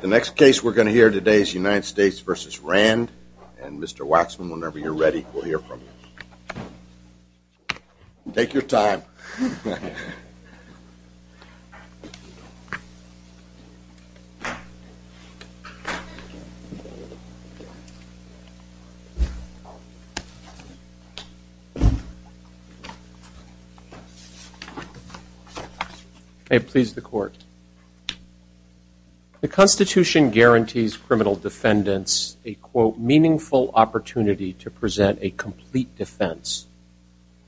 The next case we are going to hear today is United States v. Rand and Mr. Waxman, whenever you are ready, we will hear from you. Take your time. May it please the court. The Constitution guarantees criminal defendants a, quote, meaningful opportunity to present a complete defense.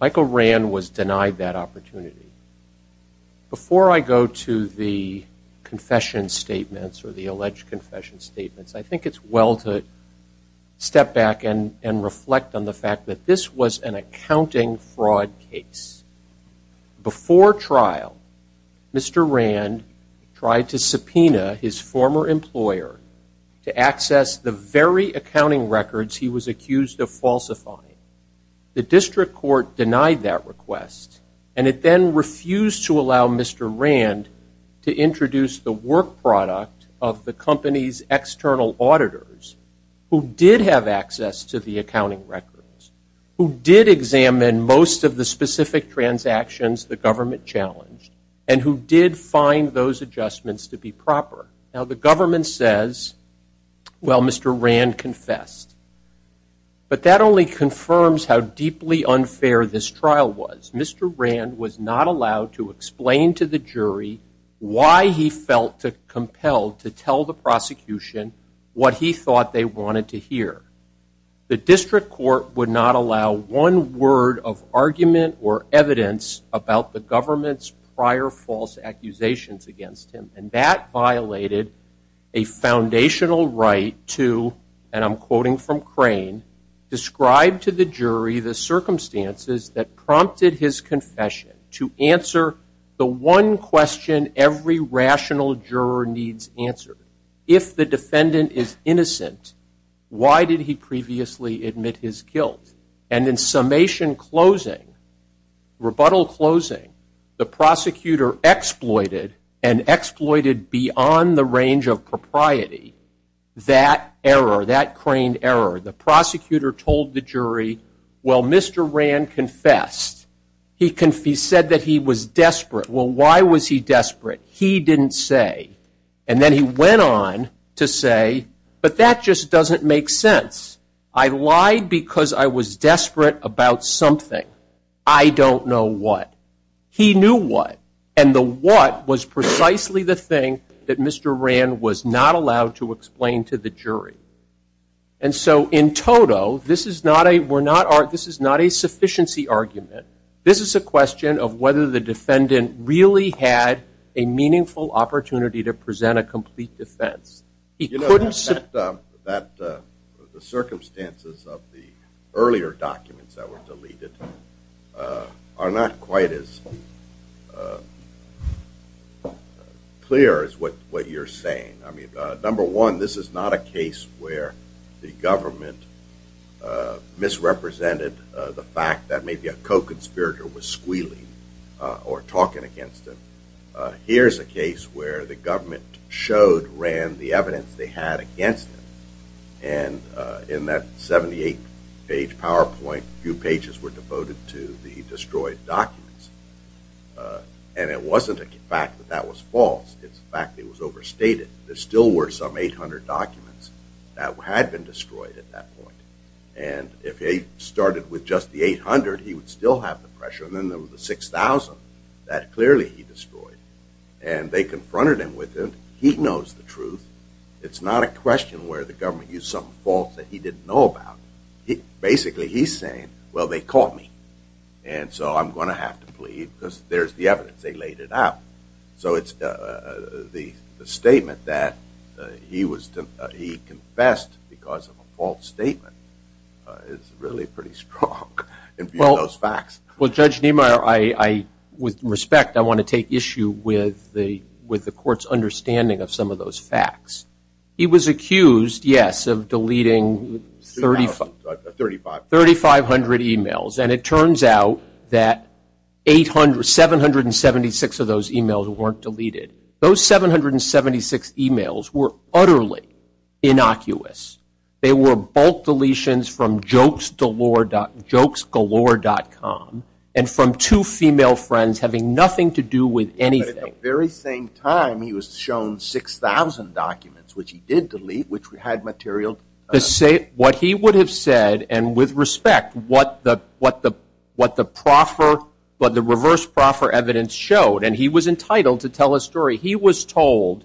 Michael Rand was denied that opportunity. Before I go to the confession statements or the alleged confession statements, I think it's well to step back and reflect on the fact that this was an accounting fraud case. Before trial, Mr. Rand tried to subpoena his former employer to access the very accounting records he was accused of falsifying. The district court denied that request and it then refused to allow Mr. Rand to introduce the work product of the company's external auditors who did have access to the accounting records, who did examine most of the specific transactions the government challenged, and who did find those adjustments to be proper. Now, the government says, well, Mr. Rand confessed. But that only confirms how deeply unfair this trial was. Mr. Rand was not allowed to explain to the jury why he felt compelled to tell the prosecution what he thought they wanted to hear. The district court would not allow one word of argument or evidence about the government's prior false accusations against him. And that violated a foundational right to, and I'm quoting from Crane, describe to the jury the circumstances that prompted his confession to answer the one question every rational juror needs answered. If the defendant is innocent, why did he previously admit his guilt? And in summation closing, rebuttal closing, the prosecutor exploited and exploited beyond the range of propriety that error, that craned error. The prosecutor told the jury, well, Mr. Rand confessed. He said that he was desperate. Well, why was he desperate? He didn't say. And then he went on to say, but that just doesn't make sense. I lied because I was desperate about something. I don't know what. He knew what. And the what was precisely the thing that Mr. Rand was not allowed to explain to the jury. And so in total, this is not a sufficiency argument. This is a question of whether the defendant really had a meaningful opportunity to present a complete defense. You know, the circumstances of the earlier documents that were deleted are not quite as clear as what you're saying. I mean, number one, this is not a case where the government misrepresented the fact that maybe a co-conspirator was squealing or talking against him. Here's a case where the government showed Rand the evidence they had against him. And in that 78-page PowerPoint, a few pages were devoted to the destroyed documents. And it wasn't a fact that that was false. It's a fact that it was overstated. There still were some 800 documents that had been destroyed at that point. And if he started with just the 800, he would still have the pressure. And then there was the 6,000 that clearly he destroyed. And they confronted him with it. He knows the truth. It's not a question where the government used something false that he didn't know about. Basically, he's saying, well, they caught me. And so I'm going to have to plead because there's the evidence. They laid it out. So the statement that he confessed because of a false statement is really pretty strong in view of those facts. Well, Judge Niemeyer, with respect, I want to take issue with the court's understanding of some of those facts. He was accused, yes, of deleting 3,500 e-mails. And it turns out that 776 of those e-mails weren't deleted. Those 776 e-mails were utterly innocuous. They were bulk deletions from jokesgalore.com and from two female friends having nothing to do with anything. But at the very same time, he was shown 6,000 documents, which he did delete, which had material. What he would have said, and with respect, what the reverse proffer evidence showed, and he was entitled to tell a story. He was told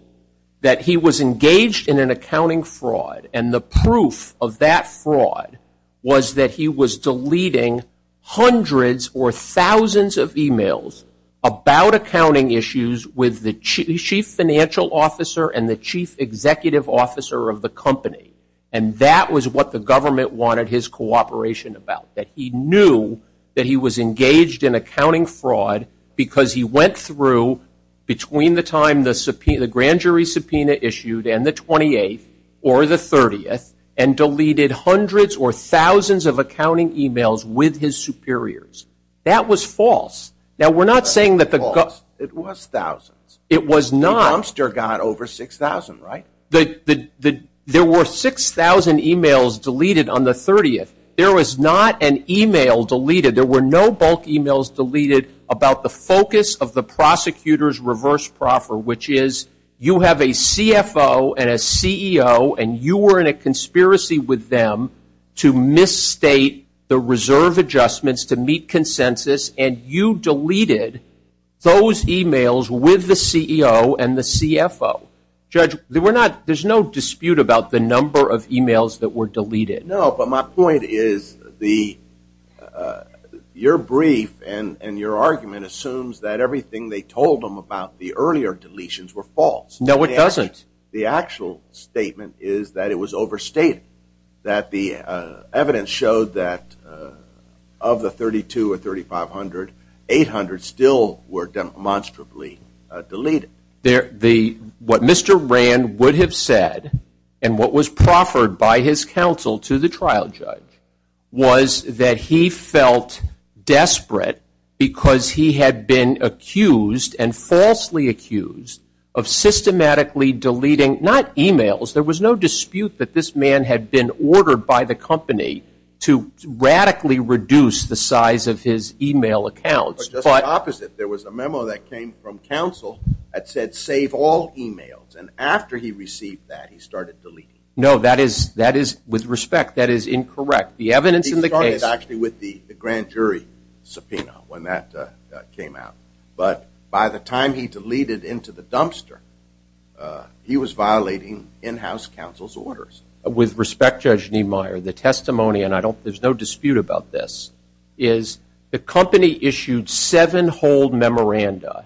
that he was engaged in an accounting fraud. And the proof of that fraud was that he was deleting hundreds or thousands of e-mails about accounting issues with the chief financial officer and the chief executive officer of the company. And that was what the government wanted his cooperation about, that he knew that he was engaged in accounting fraud because he went through, between the time the grand jury subpoena issued and the 28th or the 30th, and deleted hundreds or thousands of accounting e-mails with his superiors. That was false. Now, we're not saying that the government was. It was thousands. It was not. The prompter got over 6,000, right? There were 6,000 e-mails deleted on the 30th. There was not an e-mail deleted. There were no bulk e-mails deleted about the focus of the prosecutor's reverse proffer, which is you have a CFO and a CEO, and you were in a conspiracy with them to misstate the reserve adjustments to meet consensus, and you deleted those e-mails with the CEO and the CFO. Judge, there's no dispute about the number of e-mails that were deleted. No, but my point is your brief and your argument assumes that everything they told them about the earlier deletions were false. No, it doesn't. The actual statement is that it was overstated, that the evidence showed that of the 3,200 or 3,500, 800 still were demonstrably deleted. What Mr. Rand would have said and what was proffered by his counsel to the trial judge was that he felt desperate because he had been accused and falsely accused of systematically deleting not e-mails. There was no dispute that this man had been ordered by the company to radically reduce the size of his e-mail accounts. But just the opposite. There was a memo that came from counsel that said, save all e-mails. And after he received that, he started deleting. No, that is, with respect, that is incorrect. The evidence in the case. He started actually with the grand jury subpoena when that came out. But by the time he deleted into the dumpster, he was violating in-house counsel's orders. With respect, Judge Niemeyer, the testimony, and there's no dispute about this, is the company issued seven hold memoranda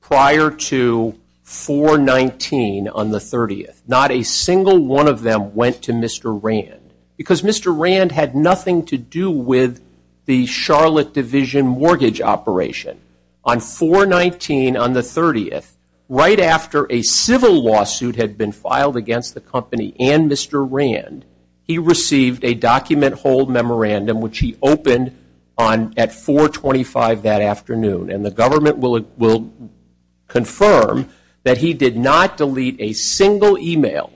prior to 4-19 on the 30th. Not a single one of them went to Mr. Rand because Mr. Rand had nothing to do with the Charlotte Division mortgage operation. On 4-19 on the 30th, right after a civil lawsuit had been filed against the company and Mr. Rand, he received a document hold memorandum, which he opened at 4-25 that afternoon. And the government will confirm that he did not delete a single e-mail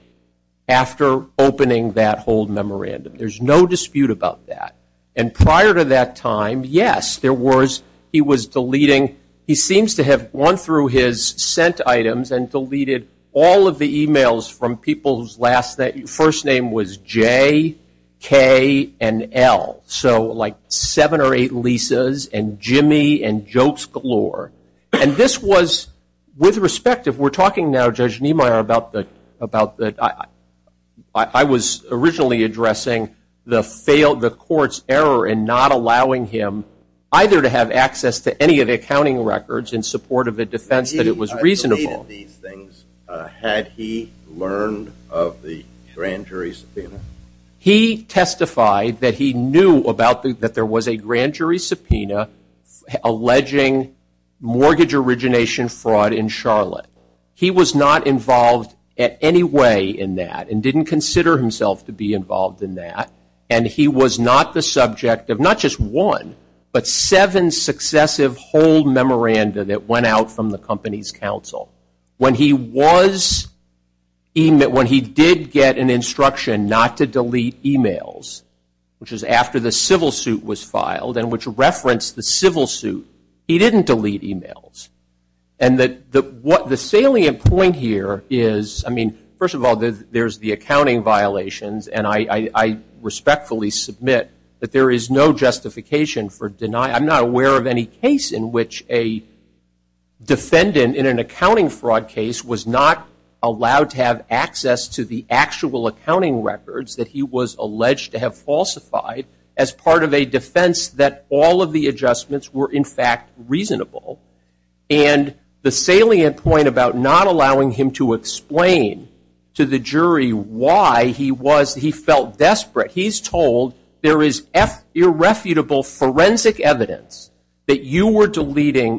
after opening that hold memorandum. There's no dispute about that. And prior to that time, yes, there was. He was deleting. He seems to have gone through his sent items and deleted all of the e-mails from people whose first name was J, K, and L. So like seven or eight Lisas and Jimmy and jokes galore. And this was, with respect, if we're talking now, Judge Niemeyer, I was originally addressing the court's error in not allowing him either to have access to any of the accounting records in support of a defense that it was reasonable. Had he learned of the grand jury subpoena? He testified that he knew that there was a grand jury subpoena alleging mortgage origination fraud in Charlotte. He was not involved in any way in that and didn't consider himself to be involved in that. And he was not the subject of not just one, but seven successive hold memoranda that went out from the company's counsel. When he did get an instruction not to delete e-mails, which is after the civil suit was filed and which referenced the civil suit, he didn't delete e-mails. And the salient point here is, I mean, first of all, there's the accounting violations, and I respectfully submit that there is no justification for denying. I'm not aware of any case in which a defendant in an accounting fraud case was not allowed to have access to the actual accounting records that he was alleged to have falsified as part of a defense that all of the adjustments were, in fact, reasonable. And the salient point about not allowing him to explain to the jury why he felt desperate, he's told there is irrefutable forensic evidence that you were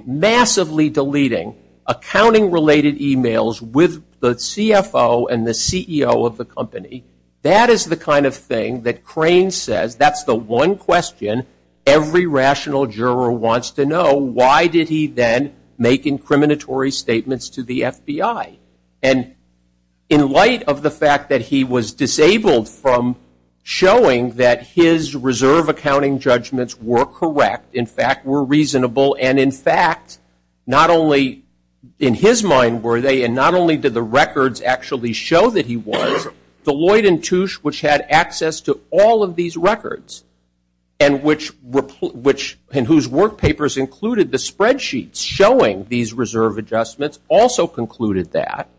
massively deleting accounting-related e-mails with the CFO and the CEO of the company. That is the kind of thing that Crane says. That's the one question every rational juror wants to know. Why did he then make incriminatory statements to the FBI? And in light of the fact that he was disabled from showing that his reserve accounting judgments were correct, in fact, were reasonable, and in fact, not only in his mind were they and not only did the records actually show that he was, Deloitte and Touche, which had access to all of these records, and whose work papers included the spreadsheets showing these reserve adjustments, also concluded that.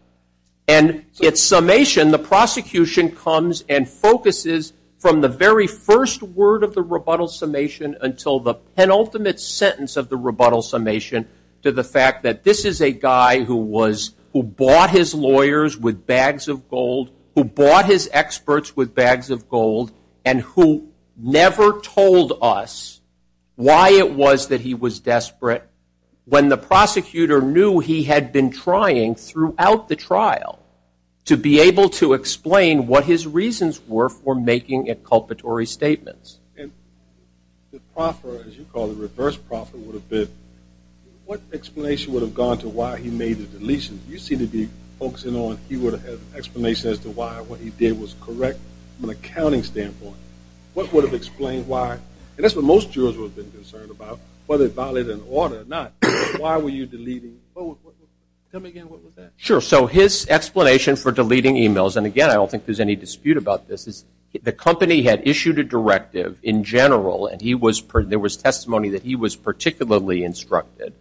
And its summation, the prosecution comes and focuses from the very first word of the rebuttal summation until the penultimate sentence of the rebuttal summation to the fact that this is a guy who was, who bought his lawyers with bags of gold, who bought his experts with bags of gold, and who never told us why it was that he was desperate when the prosecutor knew he had been trying throughout the trial to be able to explain what his reasons were for making inculpatory statements. Yes. And the proffer, as you call it, reverse proffer would have been, what explanation would have gone to why he made the deletion? You seem to be focusing on he would have had an explanation as to why what he did was correct from an accounting standpoint. What would have explained why? And that's what most jurors would have been concerned about, whether it violated an order or not. Why were you deleting? Tell me again, what was that? Sure. So his explanation for deleting emails, and again, I don't think there's any dispute about this, is the company had issued a directive in general, and there was testimony that he was particularly instructed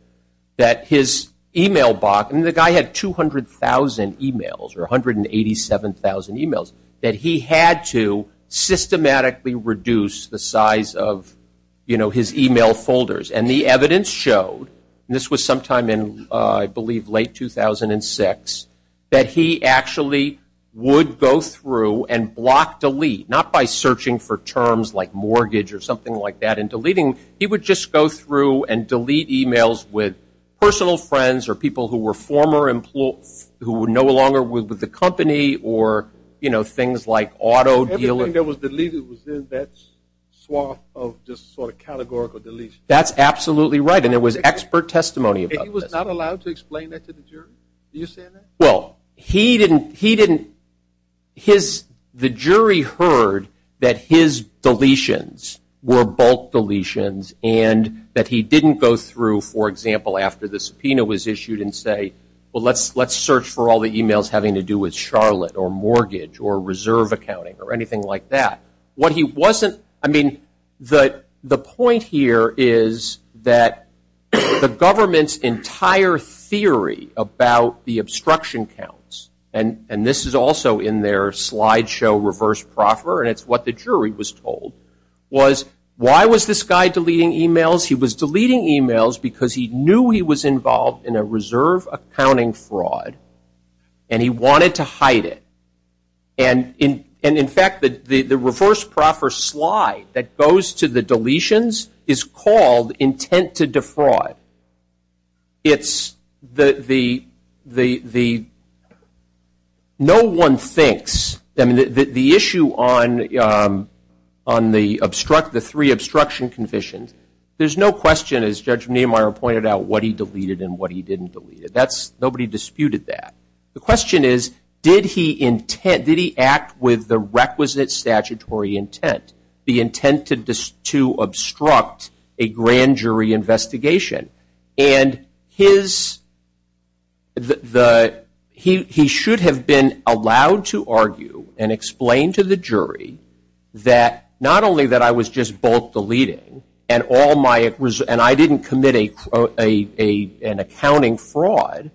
that his email box, and the guy had 200,000 emails or 187,000 emails, that he had to systematically reduce the size of his email folders. And the evidence showed, and this was sometime in I believe late 2006, that he actually would go through and block delete, not by searching for terms like mortgage or something like that in deleting, he would just go through and delete emails with personal friends or people who were former employees, who were no longer with the company, or, you know, things like auto dealing. Everything that was deleted was in that swath of just sort of categorical deletion. That's absolutely right, and there was expert testimony about this. He was not allowed to explain that to the jury? Do you say that? Well, he didn't, his, the jury heard that his deletions were bulk deletions, and that he didn't go through, for example, after the subpoena was issued and say, well, let's search for all the emails having to do with Charlotte or mortgage or reserve accounting or anything like that. What he wasn't, I mean, the point here is that the government's entire theory about the obstruction counts, and this is also in their slideshow reverse proffer, and it's what the jury was told, was why was this guy deleting emails? He was deleting emails because he knew he was involved in a reserve accounting fraud, and he wanted to hide it. And, in fact, the reverse proffer slide that goes to the deletions is called intent to defraud. It's the, no one thinks, I mean, the issue on the three obstruction convictions, there's no question, as Judge Niemeyer pointed out, what he deleted and what he didn't delete. That's, nobody disputed that. The question is, did he act with the requisite statutory intent, the intent to obstruct a grand jury investigation? And he should have been allowed to argue and explain to the jury that, not only that I was just bulk deleting and I didn't commit an accounting fraud,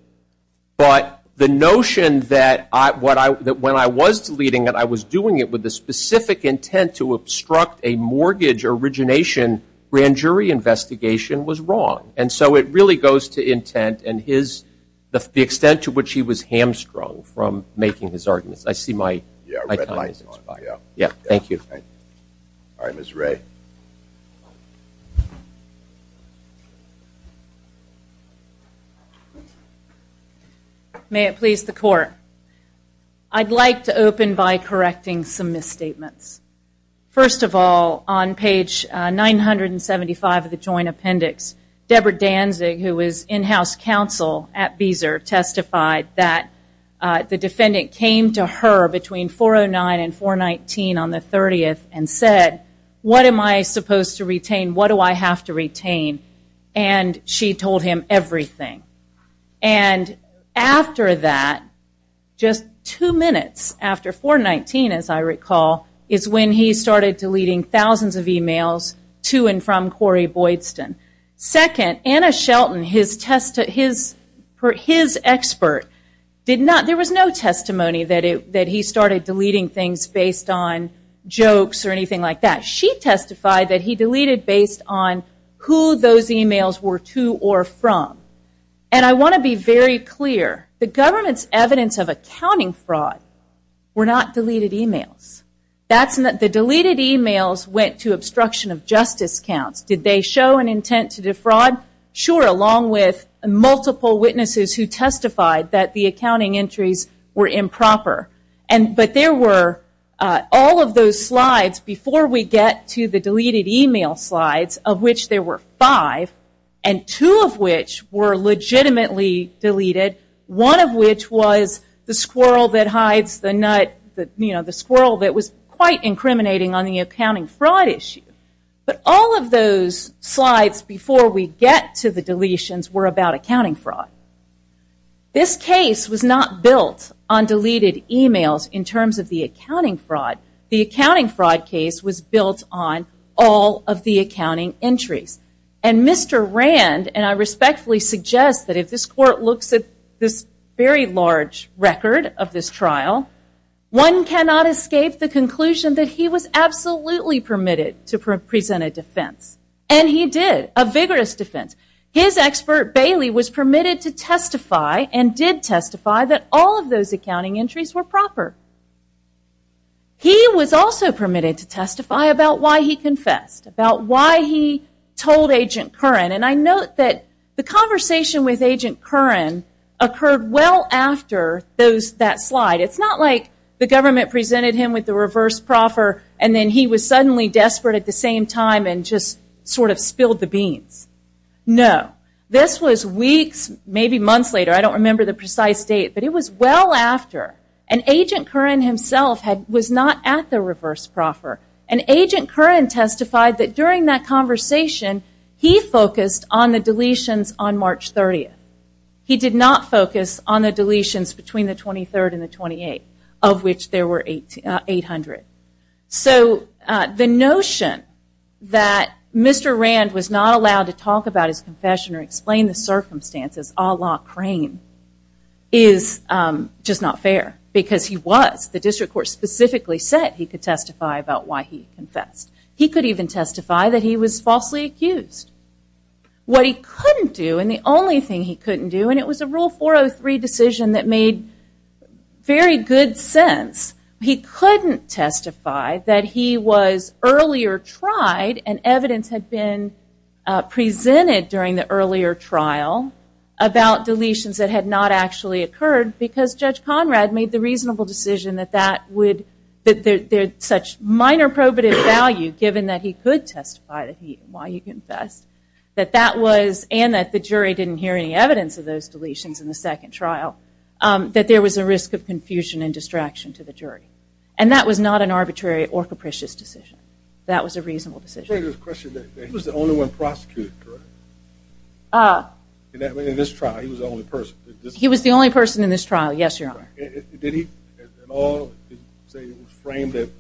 but the notion that when I was deleting it I was doing it with the specific intent to obstruct a mortgage origination grand jury investigation was wrong. And so it really goes to intent and his, the extent to which he was hamstrung from making his arguments. I see my time has expired. Thank you. All right, Ms. Ray. May it please the court. I'd like to open by correcting some misstatements. First of all, on page 975 of the joint appendix, Deborah Danzig, who was in-house counsel at Beezer, testified that the defendant came to her between 409 and 419 on the 30th and said, what am I supposed to retain? What do I have to retain? And she told him everything. And after that, just two minutes after 419, as I recall, is when he started deleting thousands of emails to and from Corey Boydston. Second, Anna Shelton, his expert, there was no testimony that he started deleting things based on jokes or anything like that. She testified that he deleted based on who those emails were to or from. And I want to be very clear. The government's evidence of accounting fraud were not deleted emails. The deleted emails went to obstruction of justice counts. Did they show an intent to defraud? Sure, along with multiple witnesses who testified that the accounting entries were improper. But there were all of those slides before we get to the deleted email slides, of which there were five, and two of which were legitimately deleted, one of which was the squirrel that hides the nut, the squirrel that was quite incriminating on the accounting fraud issue. But all of those slides before we get to the deletions were about accounting fraud. This case was not built on deleted emails in terms of the accounting fraud. The accounting fraud case was built on all of the accounting entries. And Mr. Rand, and I respectfully suggest that if this court looks at this very large record of this trial, one cannot escape the conclusion that he was absolutely permitted to present a defense. And he did. A vigorous defense. His expert, Bailey, was permitted to testify, and did testify, that all of those accounting entries were proper. He was also permitted to testify about why he confessed, about why he told Agent Curran. And I note that the conversation with Agent Curran occurred well after that slide. It's not like the government presented him with the reverse proffer, and then he was suddenly desperate at the same time, and just sort of spilled the beans. No. This was weeks, maybe months later, I don't remember the precise date, but it was well after. And Agent Curran himself was not at the reverse proffer. And Agent Curran testified that during that conversation, he focused on the deletions on March 30th. He did not focus on the deletions between the 23rd and the 28th, of which there were 800. So the notion that Mr. Rand was not allowed to talk about his confession or explain the circumstances, a la Crane, is just not fair. Because he was. The district court specifically said he could testify about why he confessed. He could even testify that he was falsely accused. What he couldn't do, and the only thing he couldn't do, and it was a Rule 403 decision that made very good sense, he couldn't testify that he was earlier tried, and evidence had been presented during the earlier trial, about deletions that had not actually occurred, because Judge Conrad made the reasonable decision that that would, that there's such minor probative value, given that he could testify why he confessed, and that the jury didn't hear any evidence of those deletions in the second trial, that there was a risk of confusion and distraction to the jury. And that was not an arbitrary or capricious decision. That was a reasonable decision. I have a question. He was the only one prosecuted, correct? In this trial, he was the only person. He was the only person in this trial, yes, Your Honor. Did he at all say it was framed that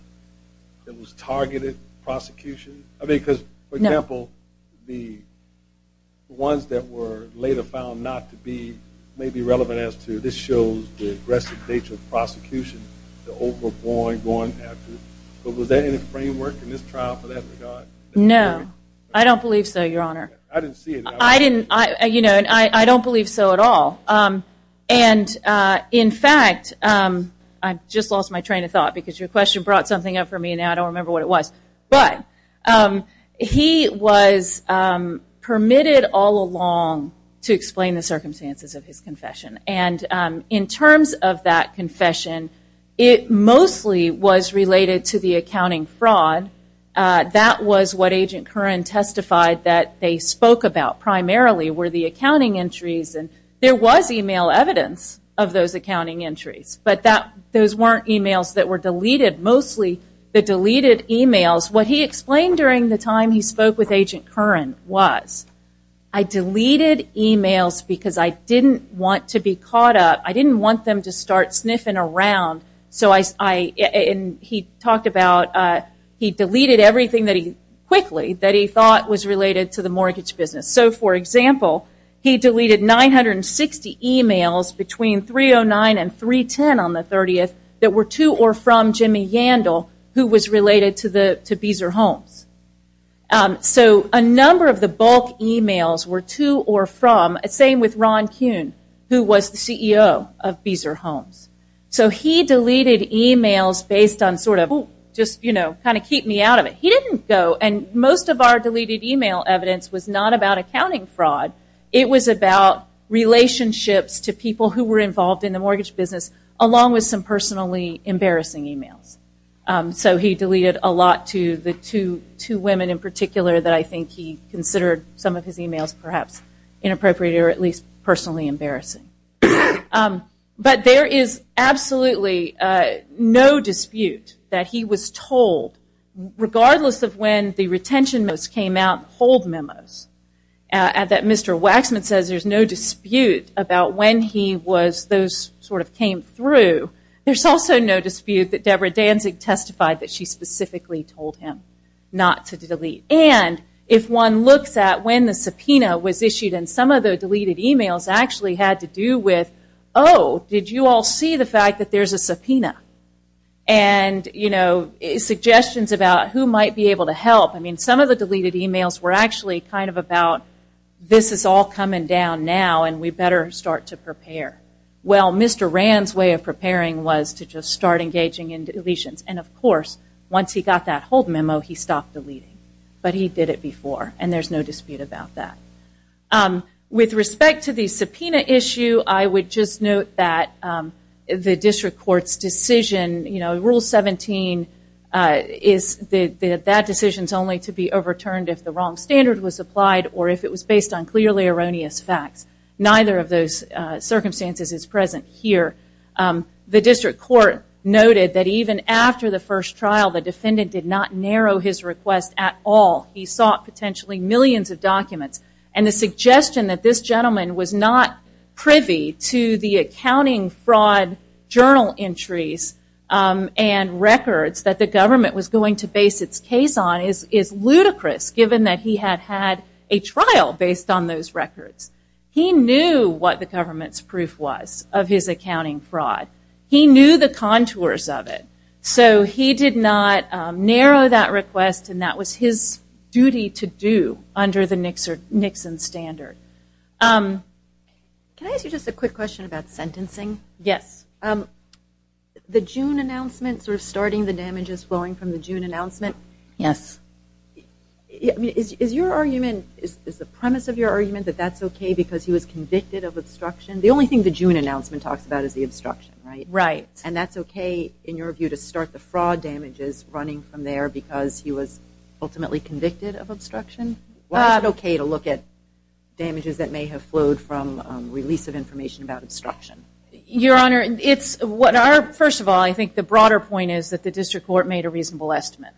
it was targeted prosecution? I mean, because, for example, the ones that were later found not to be, may be relevant as to this shows the aggressive nature of prosecution, the overboard going after, but was there any framework in this trial for that regard? No. I don't believe so, Your Honor. I didn't see it. I didn't, you know, I don't believe so at all. And, in fact, I just lost my train of thought because your question brought something up for me, and now I don't remember what it was. But he was permitted all along to explain the circumstances of his confession. And in terms of that confession, it mostly was related to the accounting fraud. That was what Agent Curran testified that they spoke about primarily were the accounting entries. And there was e-mail evidence of those accounting entries, but those weren't e-mails that were deleted. Mostly the deleted e-mails, what he explained during the time he spoke with Agent Curran was, I deleted e-mails because I didn't want to be caught up. I didn't want them to start sniffing around. And he talked about he deleted everything quickly that he thought was related to the mortgage business. So, for example, he deleted 960 e-mails between 3.09 and 3.10 on the 30th that were to or from Jimmy Yandel, who was related to Beezer Homes. So a number of the bulk e-mails were to or from, same with Ron Kuhn, who was the CEO of Beezer Homes. So he deleted e-mails based on sort of, just, you know, kind of keep me out of it. He didn't go, and most of our deleted e-mail evidence was not about accounting fraud. It was about relationships to people who were involved in the mortgage business, along with some personally embarrassing e-mails. So he deleted a lot to the two women in particular that I think he considered some of his e-mails perhaps inappropriate or at least personally embarrassing. But there is absolutely no dispute that he was told, regardless of when the retention notes came out, hold memos, that Mr. Waxman says there's no dispute about when he was, those sort of came through. There's also no dispute that Deborah Danzig testified that she specifically told him not to delete. And if one looks at when the subpoena was issued, and some of the deleted e-mails actually had to do with, oh, did you all see the fact that there's a subpoena? And suggestions about who might be able to help. Some of the deleted e-mails were actually kind of about, this is all coming down now, and we better start to prepare. Well, Mr. Rand's way of preparing was to just start engaging in deletions. And of course, once he got that hold memo, he stopped deleting. But he did it before, and there's no dispute about that. With respect to the subpoena issue, I would just note that the District Court's decision, Rule 17, that decision is only to be overturned if the wrong standard was applied, or if it was based on clearly erroneous facts. Neither of those circumstances is present here. The District Court noted that even after the first trial, the defendant did not narrow his request at all. He sought potentially millions of documents. And the suggestion that this gentleman was not privy to the accounting fraud journal entries and records that the government was going to base its case on is ludicrous, given that he had had a trial based on those records. He knew what the government's proof was of his accounting fraud. He knew the contours of it. So he did not narrow that request, and that was his duty to do under the Nixon standard. Can I ask you just a quick question about sentencing? Yes. The June announcement, sort of starting the damages flowing from the June announcement. Yes. Is your argument, is the premise of your argument that that's okay because he was convicted of obstruction? The only thing the June announcement talks about is the obstruction, right? Right. And that's okay, in your view, to start the fraud damages running from there because he was ultimately convicted of obstruction? Was it okay to look at damages that may have flowed from release of information about obstruction? Your Honor, it's what our, first of all, I think the broader point is that the district court made a reasonable estimate.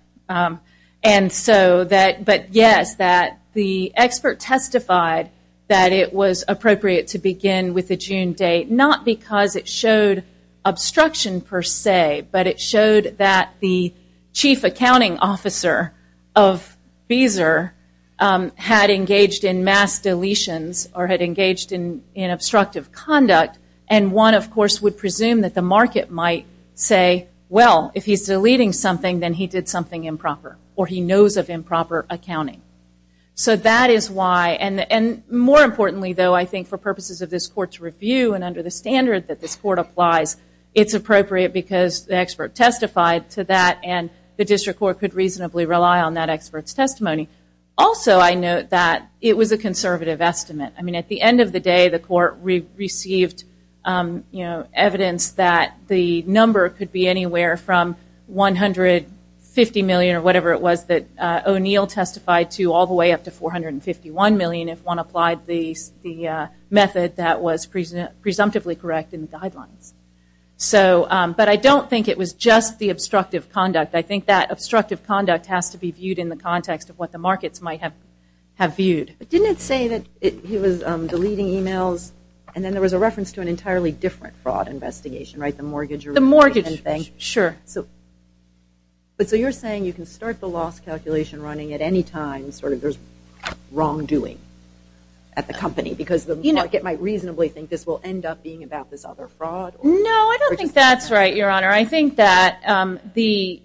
And so that, but yes, that the expert testified that it was appropriate to begin with the June date, not because it showed obstruction per se, but it showed that the chief accounting officer of Beezer had engaged in mass deletions or had engaged in obstructive conduct. And one, of course, would presume that the market might say, well, if he's deleting something, then he did something improper or he knows of improper accounting. So that is why, and more importantly, though, I think for purposes of this court's review and under the standard that this court applies, it's appropriate because the expert testified to that and the district court could reasonably rely on that expert's testimony. Also, I note that it was a conservative estimate. I mean, at the end of the day, the court received evidence that the number could be anywhere from 150 million or whatever it was that O'Neill testified to all the way up to 451 million if one applied the method that was presumptively correct in the guidelines. But I don't think it was just the obstructive conduct. I think that obstructive conduct has to be viewed in the context of what the markets might have viewed. But didn't it say that he was deleting e-mails and then there was a reference to an entirely different fraud investigation, right, the mortgage? The mortgage. Sure. But so you're saying you can start the loss calculation running at any time sort of there's wrongdoing at the company because the market might reasonably think this will end up being about this other fraud? No, I don't think that's right, Your Honor. I think that the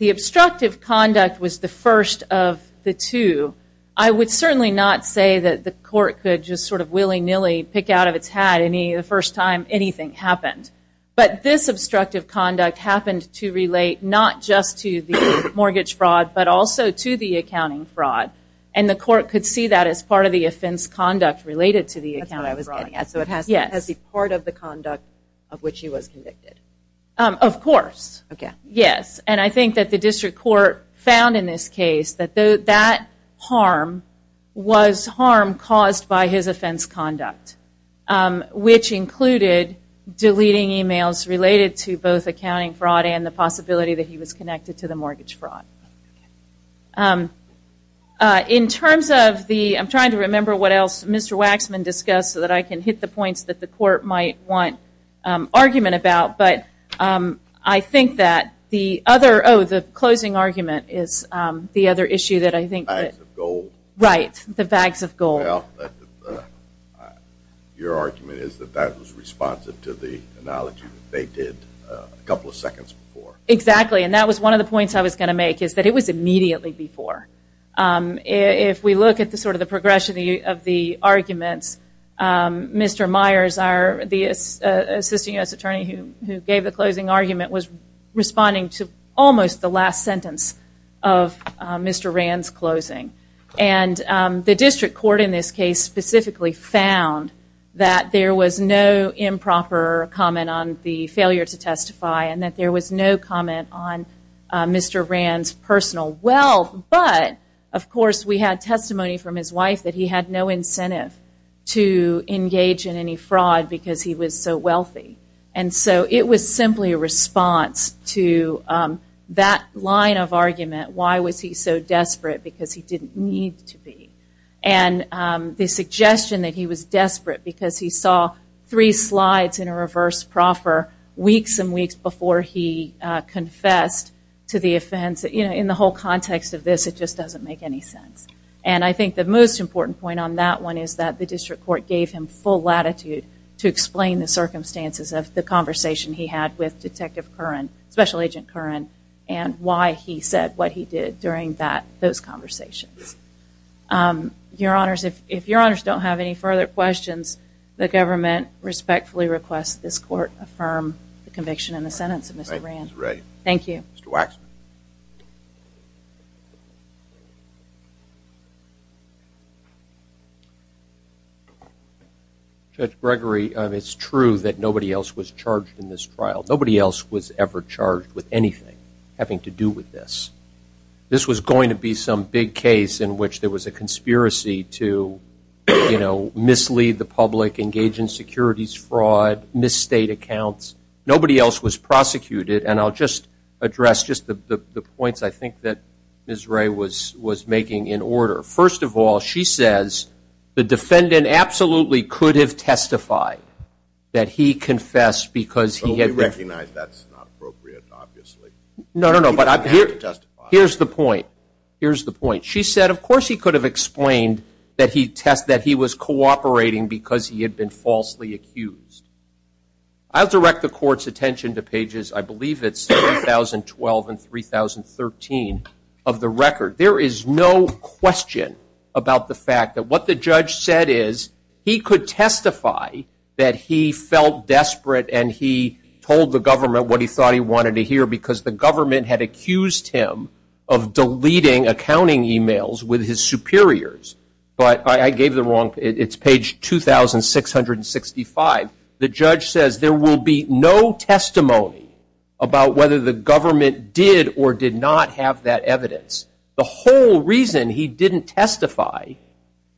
obstructive conduct was the first of the two. I would certainly not say that the court could just sort of willy-nilly pick out of its hat the first time anything happened. But this obstructive conduct happened to relate not just to the mortgage fraud but also to the accounting fraud. And the court could see that as part of the offense conduct related to the accounting fraud. That's what I was getting at. So it has to be part of the conduct of which he was convicted. Of course. Okay. Yes. And I think that the district court found in this case that that harm was harm caused by his offense conduct, which included deleting e-mails related to both accounting fraud and the possibility that he was connected to the mortgage fraud. In terms of the – I'm trying to remember what else Mr. Waxman discussed so that I can hit the points that the court might want argument about. But I think that the other – oh, the closing argument is the other issue that I think. Bags of gold. Right. The bags of gold. Well, your argument is that that was responsive to the analogy that they did a couple of seconds before. Exactly. And that was one of the points I was going to make, is that it was immediately before. If we look at sort of the progression of the arguments, Mr. Myers, the assistant U.S. attorney who gave the closing argument, was responding to almost the last sentence of Mr. Rand's closing. And the district court in this case specifically found that there was no improper comment on the failure to testify and that there was no comment on Mr. Rand's personal wealth. But, of course, we had testimony from his wife that he had no incentive to engage in any fraud because he was so wealthy. And so it was simply a response to that line of argument, why was he so desperate because he didn't need to be. And the suggestion that he was desperate because he saw three slides in a reverse proffer weeks and weeks before he confessed to the offense. In the whole context of this, it just doesn't make any sense. And I think the most important point on that one is that the district court gave him full latitude to explain the circumstances of the conversation he had with Detective Curran, Special Agent Curran, and why he said what he did during those conversations. Your Honors, if Your Honors don't have any further questions, the government respectfully requests this court affirm the conviction in the sentence of Mr. Rand. Thank you. Mr. Waxman. Judge Gregory, it's true that nobody else was charged in this trial. Nobody else was ever charged with anything having to do with this. This was going to be some big case in which there was a conspiracy to, you know, mislead the public, engage in securities fraud, misstate accounts. Nobody else was prosecuted. And I'll just address just the points I think that Ms. Ray was making in order. First of all, she says the defendant absolutely could have testified that he confessed because he had recognized that's not appropriate, obviously. No, no, no. Here's the point. Here's the point. She said, of course, he could have explained that he was cooperating because he had been falsely accused. I'll direct the court's attention to pages, I believe it's 3012 and 3013 of the record. There is no question about the fact that what the judge said is he could testify that he felt desperate and he told the government what he thought he wanted to hear because the government had accused him of deleting accounting emails with his superiors. But I gave the wrong, it's page 2665. The judge says there will be no testimony about whether the government did or did not have that evidence. The whole reason he didn't testify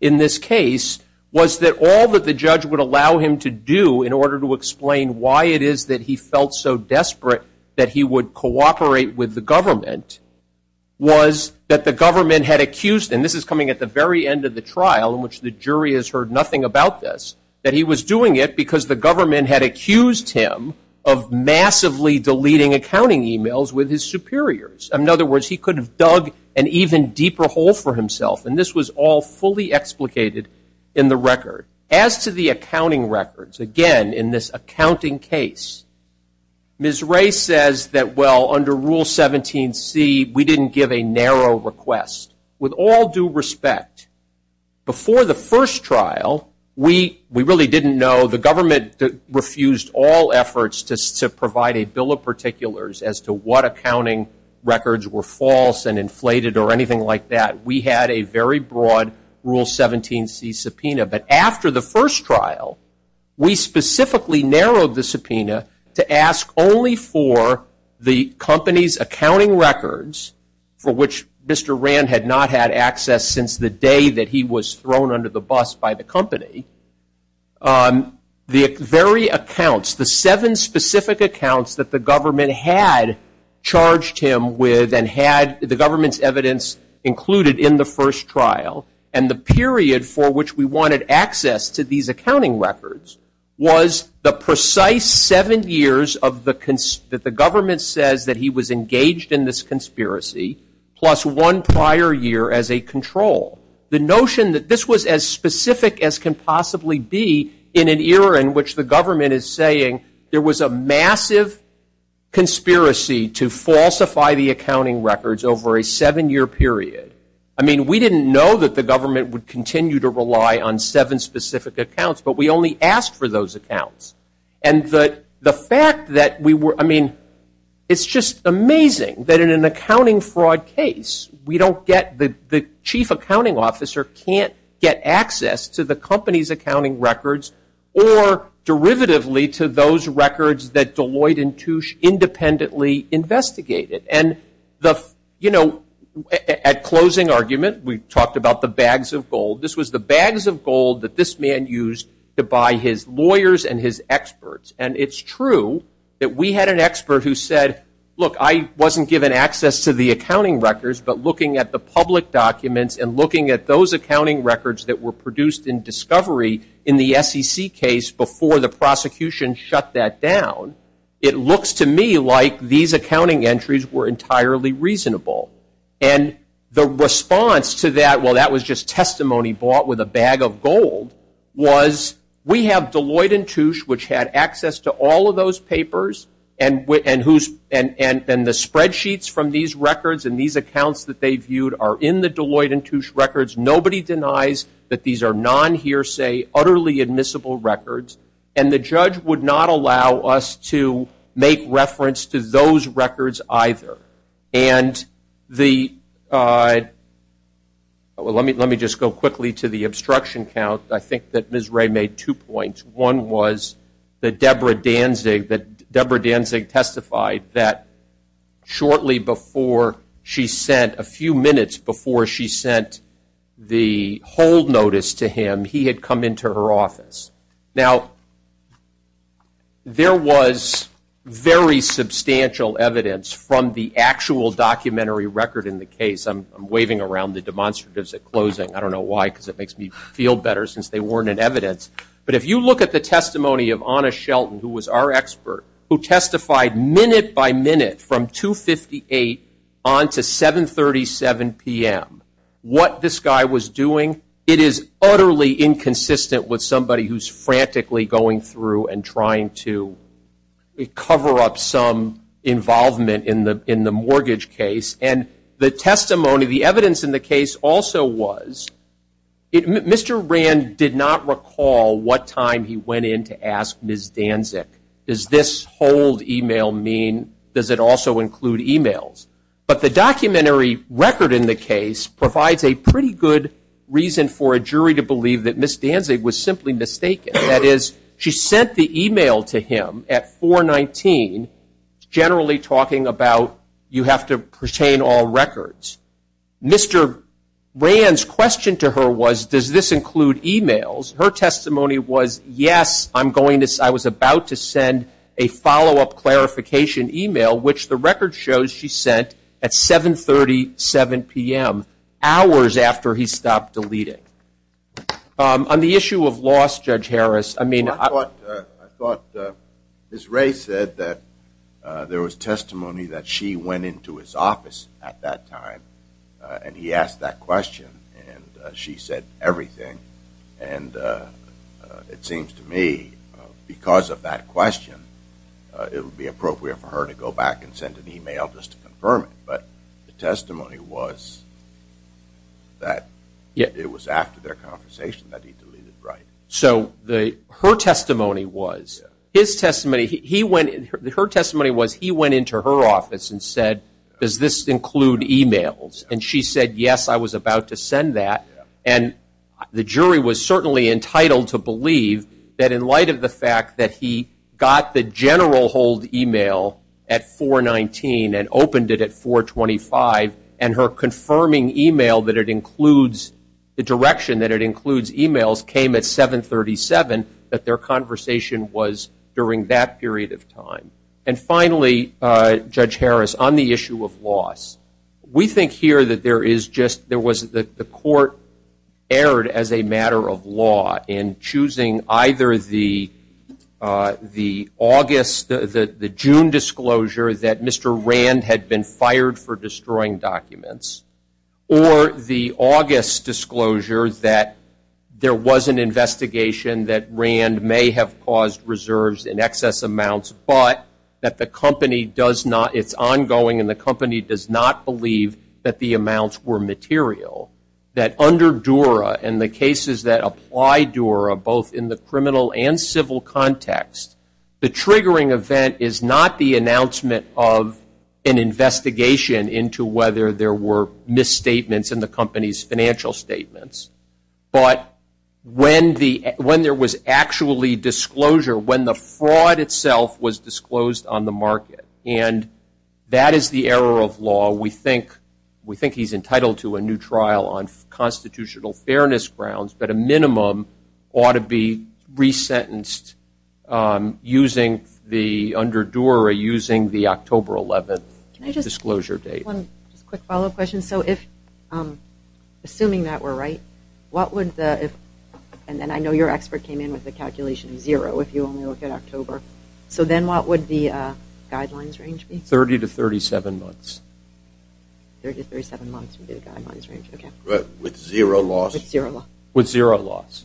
in this case was that all that the judge would allow him to do in order to explain why it is that he felt so desperate that he would cooperate with the government was that the government had accused him, this is coming at the very end of the trial in which the jury has heard nothing about this, that he was doing it because the government had accused him of massively deleting accounting emails with his superiors. In other words, he could have dug an even deeper hole for himself. And this was all fully explicated in the record. As to the accounting records, again, in this accounting case, Ms. Ray says that, well, under Rule 17C, we didn't give a narrow request. With all due respect, before the first trial, we really didn't know. The government refused all efforts to provide a bill of particulars as to what accounting records were false and inflated or anything like that. We had a very broad Rule 17C subpoena. But after the first trial, we specifically narrowed the subpoena to ask only for the company's accounting records, for which Mr. Rand had not had access since the day that he was thrown under the bus by the company, the very accounts, the seven specific accounts that the government had charged him with and had the government's evidence included in the first trial and the period for which we wanted access to these accounting records was the precise seven years that the government says that he was engaged in this conspiracy plus one prior year as a control. The notion that this was as specific as can possibly be in an era in which the government is saying there was a massive conspiracy to falsify the accounting records over a seven-year period. I mean, we didn't know that the government would continue to rely on seven specific accounts, but we only asked for those accounts. And the fact that we were, I mean, it's just amazing that in an accounting fraud case, we don't get, the chief accounting officer can't get access to the company's accounting records or derivatively to those records that Deloitte and Touche independently investigated. And, you know, at closing argument, we talked about the bags of gold. This was the bags of gold that this man used to buy his lawyers and his experts. And it's true that we had an expert who said, look, I wasn't given access to the accounting records, but looking at the public documents and looking at those accounting records that were produced in discovery in the SEC case before the prosecution shut that down, it looks to me like these accounting entries were entirely reasonable. And the response to that, well, that was just testimony bought with a bag of gold, was we have Deloitte and Touche, which had access to all of those papers, and the spreadsheets from these records and these accounts that they viewed are in the Deloitte and Touche records. Nobody denies that these are non-hearsay, utterly admissible records. And the judge would not allow us to make reference to those records either. And let me just go quickly to the obstruction count. I think that Ms. Ray made two points. One was that Deborah Danzig testified that shortly before she sent, a few minutes before she sent the hold notice to him, he had come into her office. Now, there was very substantial evidence from the actual documentary record in the case. I'm waving around the demonstratives at closing. I don't know why because it makes me feel better since they weren't in evidence. But if you look at the testimony of Anna Shelton, who was our expert, who testified minute by minute from 2.58 on to 7.37 p.m., what this guy was doing, it is utterly inconsistent with somebody who's frantically going through and trying to cover up some involvement in the mortgage case. And the testimony, the evidence in the case also was, Mr. Rand did not recall what time he went in to ask Ms. Danzig, does this hold e-mail mean, does it also include e-mails? But the documentary record in the case provides a pretty good reason for a jury to believe that Ms. Danzig was simply mistaken. That is, she sent the e-mail to him at 4.19, generally talking about, you have to pertain all records. Mr. Rand's question to her was, does this include e-mails? Her testimony was, yes, I was about to send a follow-up clarification e-mail, which the record shows she sent at 7.37 p.m., hours after he stopped deleting. On the issue of loss, Judge Harris, I mean I thought Ms. Ray said that there was testimony that she went into his office at that time, and he asked that question, and she said everything. And it seems to me, because of that question, it would be appropriate for her to go back and send an e-mail just to confirm it. But the testimony was that it was after their conversation that he deleted, right? So her testimony was, his testimony, her testimony was he went into her office and said, does this include e-mails? And she said, yes, I was about to send that. And the jury was certainly entitled to believe that in light of the fact that he got the general hold e-mail at 4.19 and opened it at 4.25, and her confirming e-mail that it includes, the direction that it includes e-mails came at 7.37, that their conversation was during that period of time. And finally, Judge Harris, on the issue of loss, we think here that there is just, there was the court erred as a matter of law in choosing either the August, the June disclosure that Mr. Rand had been fired for destroying documents, or the August disclosure that there was an investigation that Rand may have caused reserves in excess amounts, but that the company does not, it's ongoing and the company does not believe that the amounts were material. That under Dura and the cases that apply Dura, both in the criminal and civil context, the triggering event is not the announcement of an investigation into whether there were misstatements in the company's financial statements, but when there was actually disclosure, when the fraud itself was disclosed on the market. And that is the error of law. We think he's entitled to a new trial on constitutional fairness grounds, but a minimum ought to be resentenced using the, under Dura, using the October 11th disclosure date. One quick follow-up question. So if, assuming that we're right, what would the, and then I know your expert came in with a calculation of zero if you only look at October. So then what would the guidelines range be? Thirty to thirty-seven months. Thirty to thirty-seven months would be the guidelines range. With zero loss? With zero loss.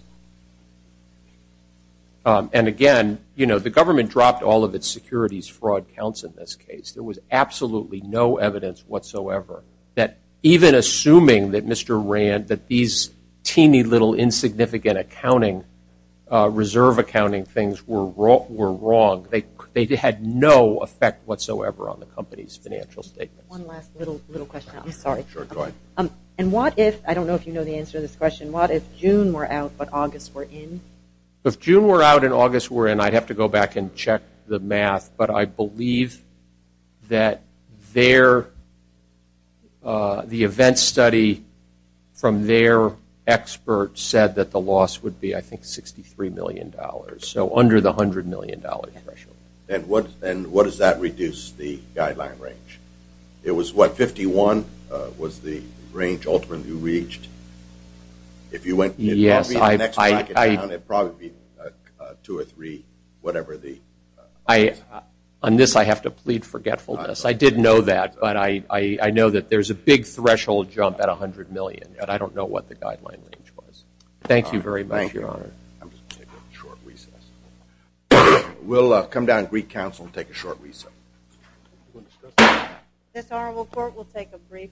And again, you know, the government dropped all of its securities fraud counts in this case. There was absolutely no evidence whatsoever that even assuming that Mr. Rand, that these teeny little insignificant accounting, reserve accounting things were wrong. They had no effect whatsoever on the company's financial statements. One last little question. I'm sorry. Sure, go ahead. And what if, I don't know if you know the answer to this question, what if June were out but August were in? If June were out and August were in, I'd have to go back and check the math, but I believe that the event study from their expert said that the loss would be, I think, $63 million. So under the $100 million threshold. And what does that reduce the guideline range? It was what, 51 was the range ultimately reached? Yes. It would probably be two or three, whatever the. On this I have to plead forgetfulness. I didn't know that, but I know that there's a big threshold jump at $100 million, but I don't know what the guideline range was. Thank you very much, Your Honor. Thank you. I'm just going to take a short recess. We'll come down to Greek Council and take a short recess. This Honorable Court will take a brief recess.